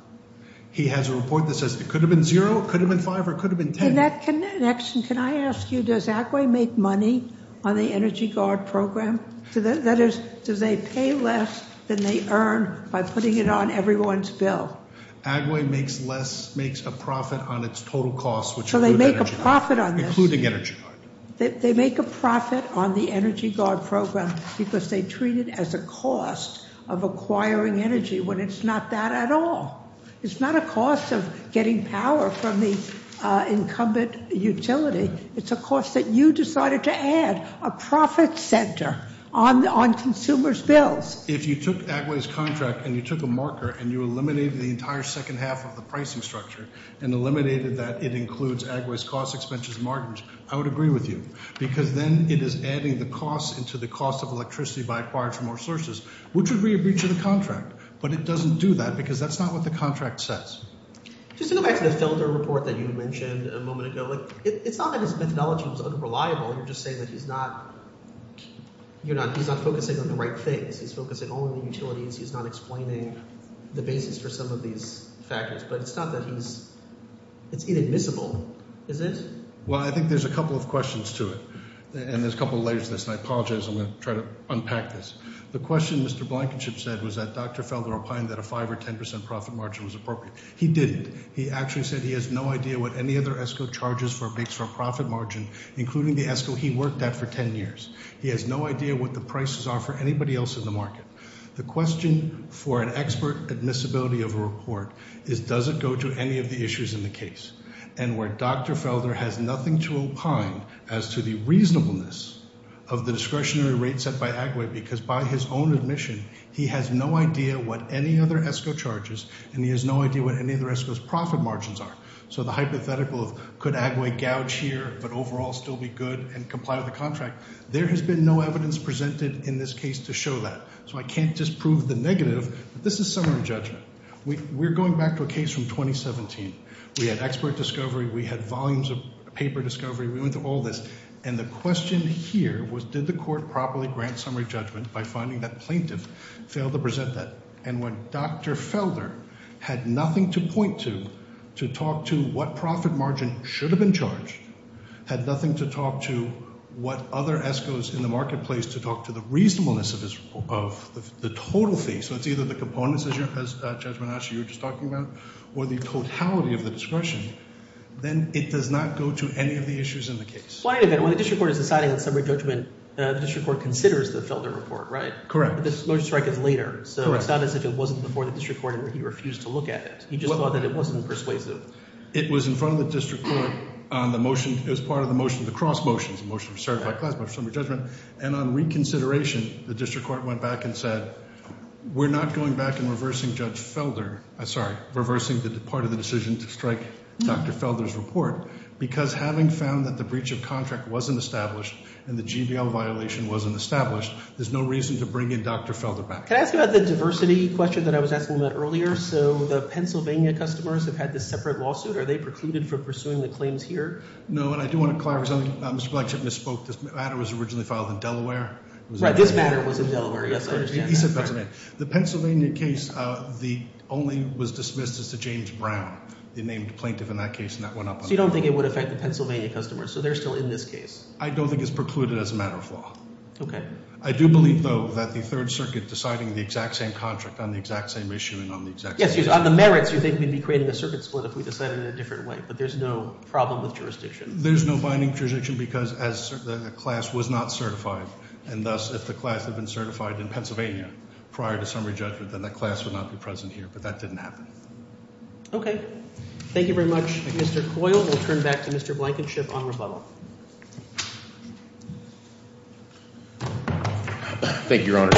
He has a report that says it could have been zero, it could have been five, or it could have been 10. In that connection, can I ask you, does ACWAE make money on the Energy Guard program? That is, do they pay less than they earn by putting it on everyone's bill? ACWAE makes less, makes a profit on its total cost, which includes Energy Guard. So they make a profit on this? Including Energy Guard. They make a profit on the Energy Guard program because they treat it as a cost of acquiring energy when it's not that at all. It's not a cost of getting power from the incumbent utility. It's a cost that you decided to add, a profit center on consumers' bills. If you took ACWAE's contract and you took a marker and you eliminated the entire second half of the pricing structure and eliminated that it includes ACWAE's cost, expenses, and margins, I would agree with you, because then it is adding the cost into the cost of electricity by acquiring more sources, which would be a breach of the contract. But it doesn't do that because that's not what the contract says. Just to go back to the Felder report that you mentioned a moment ago, it's not that his methodology was unreliable. You're just saying that he's not focusing on the right things. He's focusing only on utilities. He's not explaining the basis for some of these factors. But it's not that he's – it's inadmissible, is it? Well, I think there's a couple of questions to it, and there's a couple of layers to this, and I apologize. I'm going to try to unpack this. The question Mr. Blankenship said was that Dr. Felder opined that a 5% or 10% profit margin was appropriate. He didn't. He actually said he has no idea what any other ESCO charges for a big surplus profit margin, including the ESCO he worked at for 10 years. He has no idea what the prices are for anybody else in the market. The question for an expert admissibility of a report is does it go to any of the issues in the case, and where Dr. Felder has nothing to opine as to the reasonableness of the discretionary rate set by ACWAE because, by his own admission, he has no idea what any other ESCO charges and he has no idea what any other ESCO's profit margins are. So the hypothetical of could ACWAE gouge here but overall still be good and comply with the contract, there has been no evidence presented in this case to show that. So I can't just prove the negative, but this is summary judgment. We're going back to a case from 2017. We had expert discovery. We had volumes of paper discovery. We went through all this. And the question here was did the court properly grant summary judgment by finding that plaintiff failed to present that? And when Dr. Felder had nothing to point to to talk to what profit margin should have been charged, had nothing to talk to what other ESCOs in the marketplace to talk to the reasonableness of the total fee, so it's either the components, as Judge Menasca, you were just talking about, or the totality of the discretion, then it does not go to any of the issues in the case. When the district court is deciding on summary judgment, the district court considers the Felder report, right? Correct. But this motion to strike is later. So it's not as if it wasn't before the district court and he refused to look at it. He just thought that it wasn't persuasive. It was in front of the district court on the motion. It was part of the motion, the cross motion. It was a motion to certify class by summary judgment. And on reconsideration, the district court went back and said we're not going back and reversing Judge Felder. I'm sorry, reversing the part of the decision to strike Dr. Felder's report because having found that the breach of contract wasn't established and the GBL violation wasn't established, there's no reason to bring in Dr. Felder back. Can I ask about the diversity question that I was asking about earlier? So the Pennsylvania customers have had this separate lawsuit. Are they precluded from pursuing the claims here? No, and I do want to clarify something. Mr. Blackchip misspoke. This matter was originally filed in Delaware. Right. This matter was in Delaware. Yes, I understand that. He said Pennsylvania. The Pennsylvania case only was dismissed as to James Brown, the named plaintiff in that case, and that went up. So you don't think it would affect the Pennsylvania customers, so they're still in this case. I don't think it's precluded as a matter of law. Okay. I do believe, though, that the Third Circuit deciding the exact same contract on the exact same issue and on the exact same case. Yes, on the merits, you think we'd be creating a circuit split if we decided in a different way. But there's no problem with jurisdiction. There's no binding jurisdiction because the class was not certified. And thus, if the class had been certified in Pennsylvania prior to summary judgment, then that class would not be present here. But that didn't happen. Okay. Thank you very much, Mr. Coyle. We'll turn back to Mr. Blankenship on rebuttal. Thank you, Your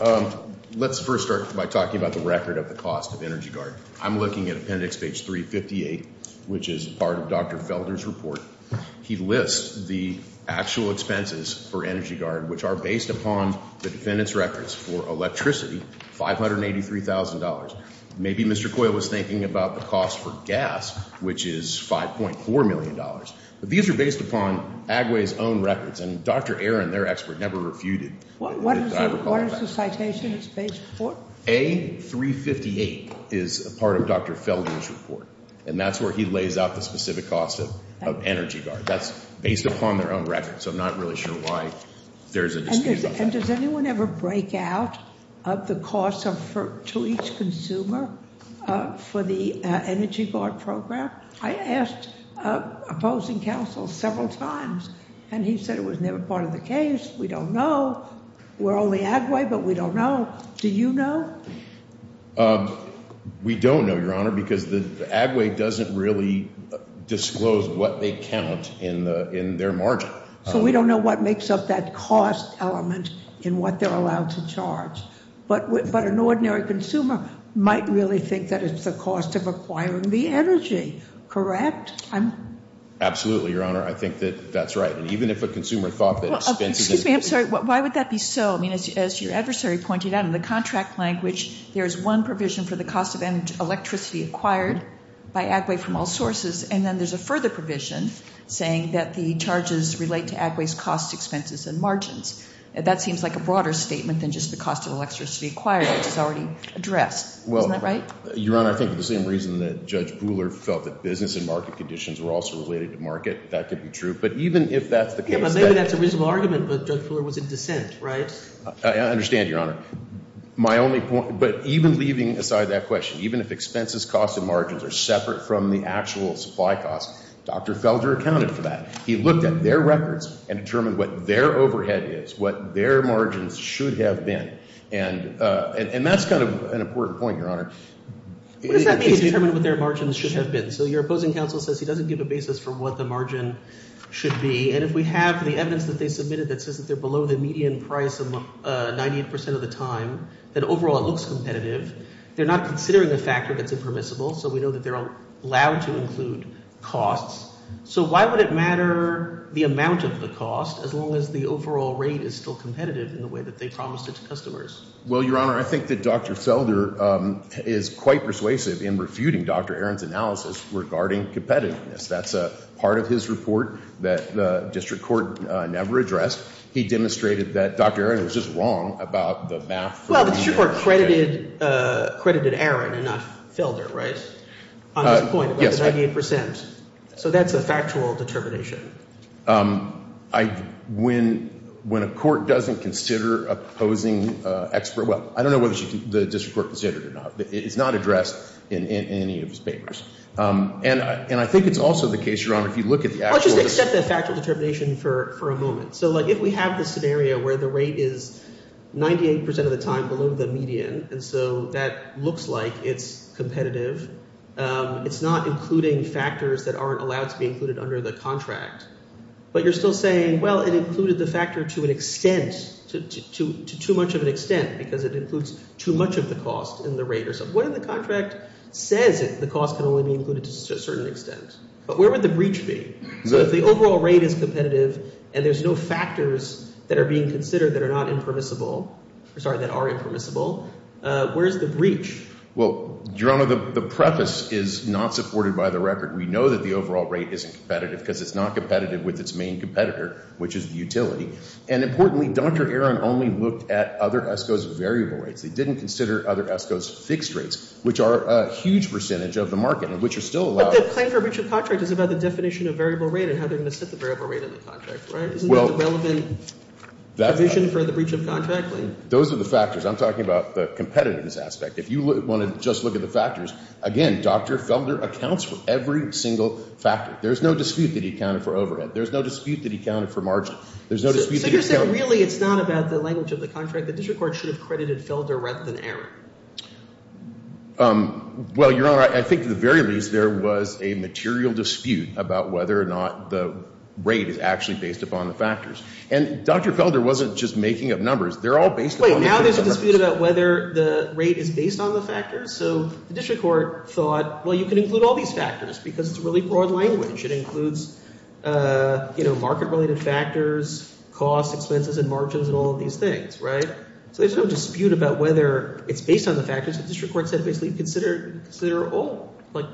Honor. Let's first start by talking about the record of the cost of Energy Guard. I'm looking at appendix page 358, which is part of Dr. Felder's report. He lists the actual expenses for Energy Guard, which are based upon the defendant's records for electricity, $583,000. Maybe Mr. Coyle was thinking about the cost for gas, which is $5.4 million. But these are based upon Agway's own records. And Dr. Aaron, their expert, never refuted. What is the citation it's based for? A358 is part of Dr. Felder's report. And that's where he lays out the specific cost of Energy Guard. That's based upon their own records. So I'm not really sure why there's a dispute about that. And does anyone ever break out of the cost to each consumer for the Energy Guard program? I asked opposing counsel several times, and he said it was never part of the case. We don't know. We're only Agway, but we don't know. Do you know? We don't know, Your Honor, because Agway doesn't really disclose what they count in their margin. So we don't know what makes up that cost element in what they're allowed to charge. But an ordinary consumer might really think that it's the cost of acquiring the energy. Correct? Absolutely, Your Honor. I think that that's right. And even if a consumer thought that expenses. Excuse me, I'm sorry. Why would that be so? I mean, as your adversary pointed out, in the contract language, there is one provision for the cost of electricity acquired by Agway from all sources. And then there's a further provision saying that the charges relate to Agway's cost expenses and margins. That seems like a broader statement than just the cost of electricity acquired, which is already addressed. Isn't that right? Your Honor, I think for the same reason that Judge Pooler felt that business and market conditions were also related to market. That could be true. But even if that's the case. Yeah, but maybe that's a reasonable argument, but Judge Pooler was in dissent, right? I understand, Your Honor. My only point. But even leaving aside that question, even if expenses, costs, and margins are separate from the actual supply costs, Dr. Felder accounted for that. He looked at their records and determined what their overhead is, what their margins should have been. And that's kind of an important point, Your Honor. What does that mean to determine what their margins should have been? So your opposing counsel says he doesn't give a basis for what the margin should be. And if we have the evidence that they submitted that says that they're below the median price of 98% of the time, that overall it looks competitive, they're not considering a factor that's impermissible, so we know that they're allowed to include costs. So why would it matter the amount of the cost as long as the overall rate is still competitive in the way that they promised it to customers? Well, Your Honor, I think that Dr. Felder is quite persuasive in refuting Dr. Aron's analysis regarding competitiveness. That's a part of his report that the district court never addressed. He demonstrated that Dr. Aron was just wrong about the math. Well, the district court credited Aron and not Felder, right, on this point about the 98%. So that's a factual determination. When a court doesn't consider opposing expert – well, I don't know whether the district court considered it or not. It's not addressed in any of his papers. And I think it's also the case, Your Honor, if you look at the actual – I'll just accept that factual determination for a moment. So, like, if we have this scenario where the rate is 98% of the time below the median and so that looks like it's competitive, it's not including factors that aren't allowed to be included under the contract, but you're still saying, well, it included the factor to an extent, to too much of an extent because it includes too much of the cost in the rate or something. So what if the contract says that the cost can only be included to a certain extent? But where would the breach be? So if the overall rate is competitive and there's no factors that are being considered that are not impermissible – sorry, that are impermissible, where's the breach? Well, Your Honor, the preface is not supported by the record. We know that the overall rate isn't competitive because it's not competitive with its main competitor, which is the utility. And importantly, Dr. Aron only looked at other ESCOs' variable rates. They didn't consider other ESCOs' fixed rates, which are a huge percentage of the market and which are still allowed. But the claim for breach of contract is about the definition of variable rate and how they're going to set the variable rate in the contract, right? Isn't that the relevant provision for the breach of contract? Those are the factors. I'm talking about the competitiveness aspect. If you want to just look at the factors, again, Dr. Felder accounts for every single factor. There's no dispute that he accounted for overhead. There's no dispute that he accounted for margin. So you're saying really it's not about the language of the contract. The district court should have credited Felder rather than Aron. Well, Your Honor, I think at the very least there was a material dispute about whether or not the rate is actually based upon the factors. And Dr. Felder wasn't just making up numbers. They're all based upon the factors. Wait, now there's a dispute about whether the rate is based on the factors? So the district court thought, well, you can include all these factors because it's really broad language. It includes market-related factors, costs, expenses, and margins and all of these things, right? So there's no dispute about whether it's based on the factors. The district court said basically consider all. Like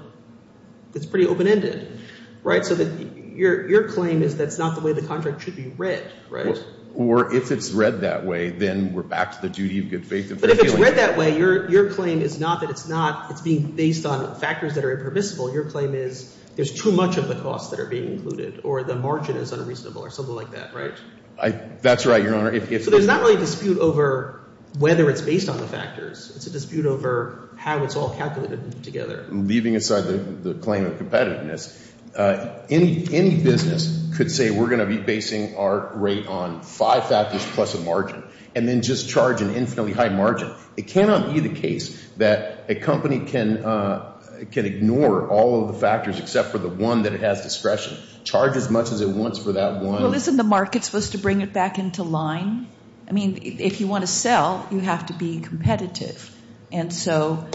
it's pretty open-ended, right? So your claim is that's not the way the contract should be read, right? Or if it's read that way, then we're back to the duty of good faith. But if it's read that way, your claim is not that it's being based on factors that are impermissible. Your claim is there's too much of the costs that are being included or the margin is unreasonable or something like that, right? That's right, Your Honor. So there's not really a dispute over whether it's based on the factors. It's a dispute over how it's all calculated together. Leaving aside the claim of competitiveness, any business could say we're going to be basing our rate on five factors plus a margin and then just charge an infinitely high margin. It cannot be the case that a company can ignore all of the factors except for the one that it has discretion, charge as much as it wants for that one. Well, isn't the market supposed to bring it back into line? I mean if you want to sell, you have to be competitive. And so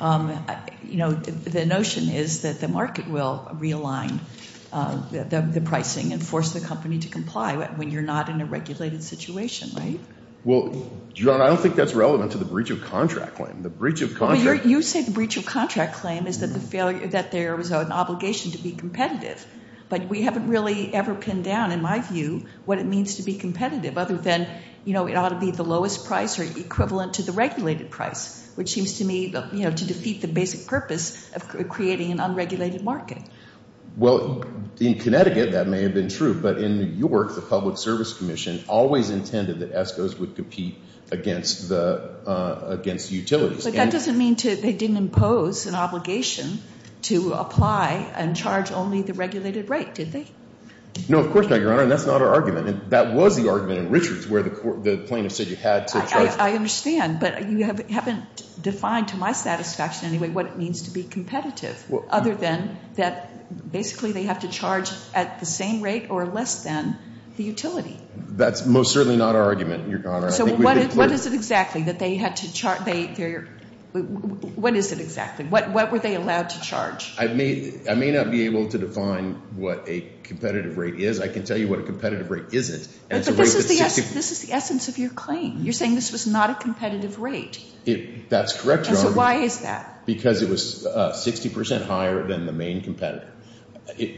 the notion is that the market will realign the pricing and force the company to comply when you're not in a regulated situation, right? Well, Your Honor, I don't think that's relevant to the breach of contract claim. The breach of contract— You said the breach of contract claim is that there was an obligation to be competitive. But we haven't really ever pinned down, in my view, what it means to be competitive other than it ought to be the lowest price or equivalent to the regulated price, which seems to me to defeat the basic purpose of creating an unregulated market. Well, in Connecticut, that may have been true. But in New York, the Public Service Commission always intended that ESCOs would compete against the utilities. But that doesn't mean they didn't impose an obligation to apply and charge only the regulated rate, did they? No, of course not, Your Honor, and that's not our argument. And that was the argument in Richards where the plaintiff said you had to charge— I understand, but you haven't defined, to my satisfaction anyway, what it means to be competitive other than that basically they have to charge at the same rate or less than the utility. That's most certainly not our argument, Your Honor. So what is it exactly that they had to—what is it exactly? What were they allowed to charge? I may not be able to define what a competitive rate is. I can tell you what a competitive rate isn't. But this is the essence of your claim. You're saying this was not a competitive rate. That's correct, Your Honor. And so why is that? Because it was 60 percent higher than the main competitor.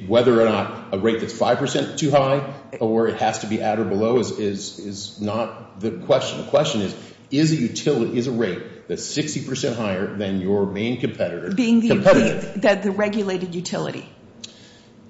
Whether or not a rate that's 5 percent too high or it has to be at or below is not the question. The question is, is a rate that's 60 percent higher than your main competitor competitive? That the regulated utility.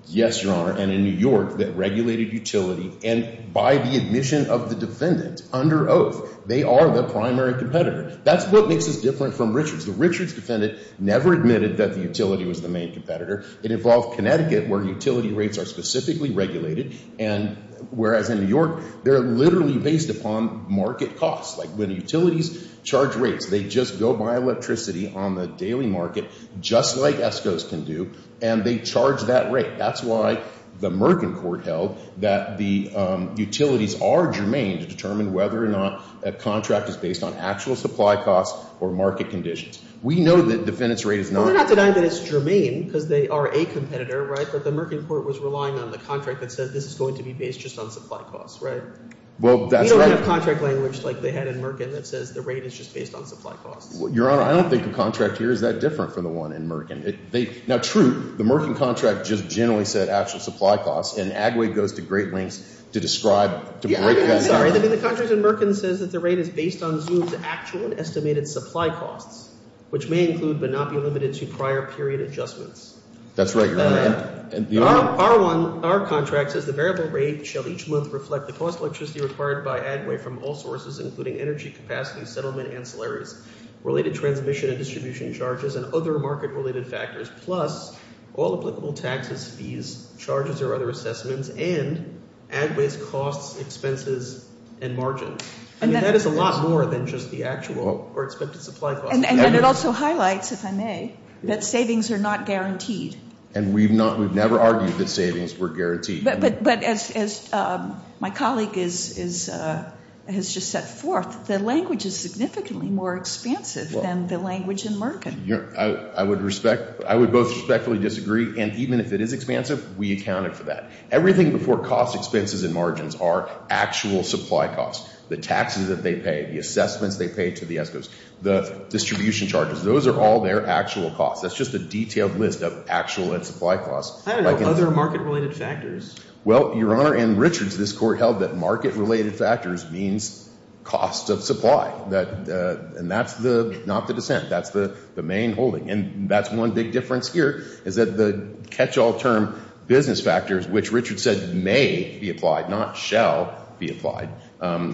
Yes, Your Honor. And in New York, that regulated utility and by the admission of the defendant under oath, they are the primary competitor. That's what makes us different from Richards. The Richards defendant never admitted that the utility was the main competitor. It involved Connecticut where utility rates are specifically regulated, and whereas in New York, they're literally based upon market costs. Like when utilities charge rates, they just go buy electricity on the daily market just like ESCOs can do, and they charge that rate. That's why the Merkin court held that the utilities are germane to determine whether or not a contract is based on actual supply costs or market conditions. We know that defendant's rate is not. Well, they're not denying that it's germane because they are a competitor, right? But the Merkin court was relying on the contract that says this is going to be based just on supply costs, right? Well, that's right. We don't have contract language like they had in Merkin that says the rate is just based on supply costs. Your Honor, I don't think the contract here is that different from the one in Merkin. Now, true, the Merkin contract just generally said actual supply costs, and Agway goes to great lengths to describe, to break that down. I'm sorry. The contract in Merkin says that the rate is based on Zoom's actual estimated supply costs, which may include but not be limited to prior period adjustments. That's right, Your Honor. Our contract says the variable rate shall each month reflect the cost of electricity required by Agway from all sources, including energy capacity, settlement, ancillaries, related transmission and distribution charges, and other market-related factors, plus all applicable taxes, fees, charges, or other assessments, and Agway's costs, expenses, and margins. I mean, that is a lot more than just the actual or expected supply costs. And then it also highlights, if I may, that savings are not guaranteed. And we've never argued that savings were guaranteed. But as my colleague has just set forth, the language is significantly more expansive than the language in Merkin. I would both respectfully disagree. And even if it is expansive, we accounted for that. Everything before cost, expenses, and margins are actual supply costs. The taxes that they pay, the assessments they pay to the ESCOs, the distribution charges, those are all their actual costs. That's just a detailed list of actual and supply costs. I don't know. Other market-related factors? Well, Your Honor, in Richards, this Court held that market-related factors means costs of supply. And that's not the dissent. That's the main holding. And that's one big difference here is that the catch-all term business factors, which Richards said may be applied, not shall be applied,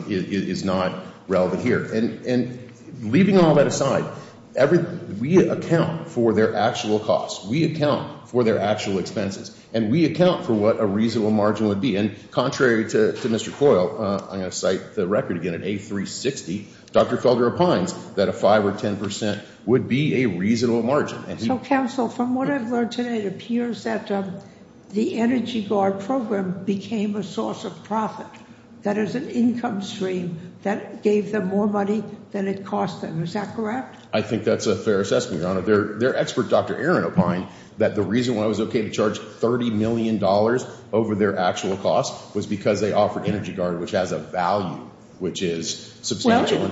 is not relevant here. And leaving all that aside, we account for their actual costs. We account for their actual expenses. And we account for what a reasonable margin would be. And contrary to Mr. Coyle, I'm going to cite the record again, in A360, Dr. Felder opines that a 5% or 10% would be a reasonable margin. So, counsel, from what I've learned today, it appears that the Energy Guard program became a source of profit. That is an income stream that gave them more money than it cost them. Is that correct? I think that's a fair assessment, Your Honor. Their expert, Dr. Aaron, opined that the reason why it was okay to charge $30 million over their actual costs was because they offered Energy Guard, which has a value, which is substantial.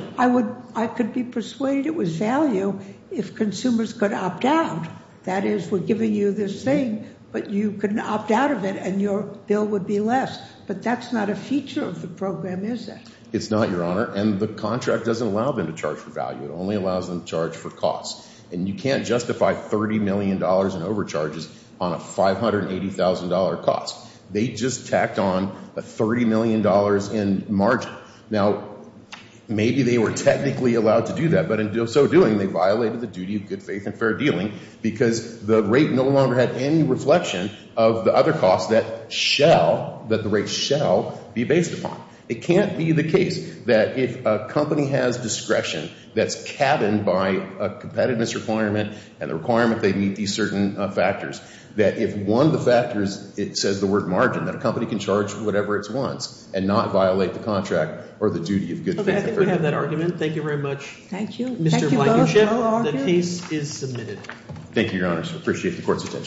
I could be persuaded it was value if consumers could opt out. That is, we're giving you this thing, but you can opt out of it and your bill would be less. But that's not a feature of the program, is it? It's not, Your Honor. And the contract doesn't allow them to charge for value. It only allows them to charge for costs. And you can't justify $30 million in overcharges on a $580,000 cost. They just tacked on a $30 million in margin. Now, maybe they were technically allowed to do that. But in so doing, they violated the duty of good faith and fair dealing because the rate no longer had any reflection of the other costs that the rate shall be based upon. It can't be the case that if a company has discretion that's cabined by a competitiveness requirement and the requirement they meet these certain factors, that if one of the factors, it says the word margin, that a company can charge whatever it wants and not violate the contract or the duty of good faith and fair dealing. I think we have that argument. Thank you very much, Mr. Blankenship. The case is submitted. Thank you, Your Honors. I appreciate the court's attention.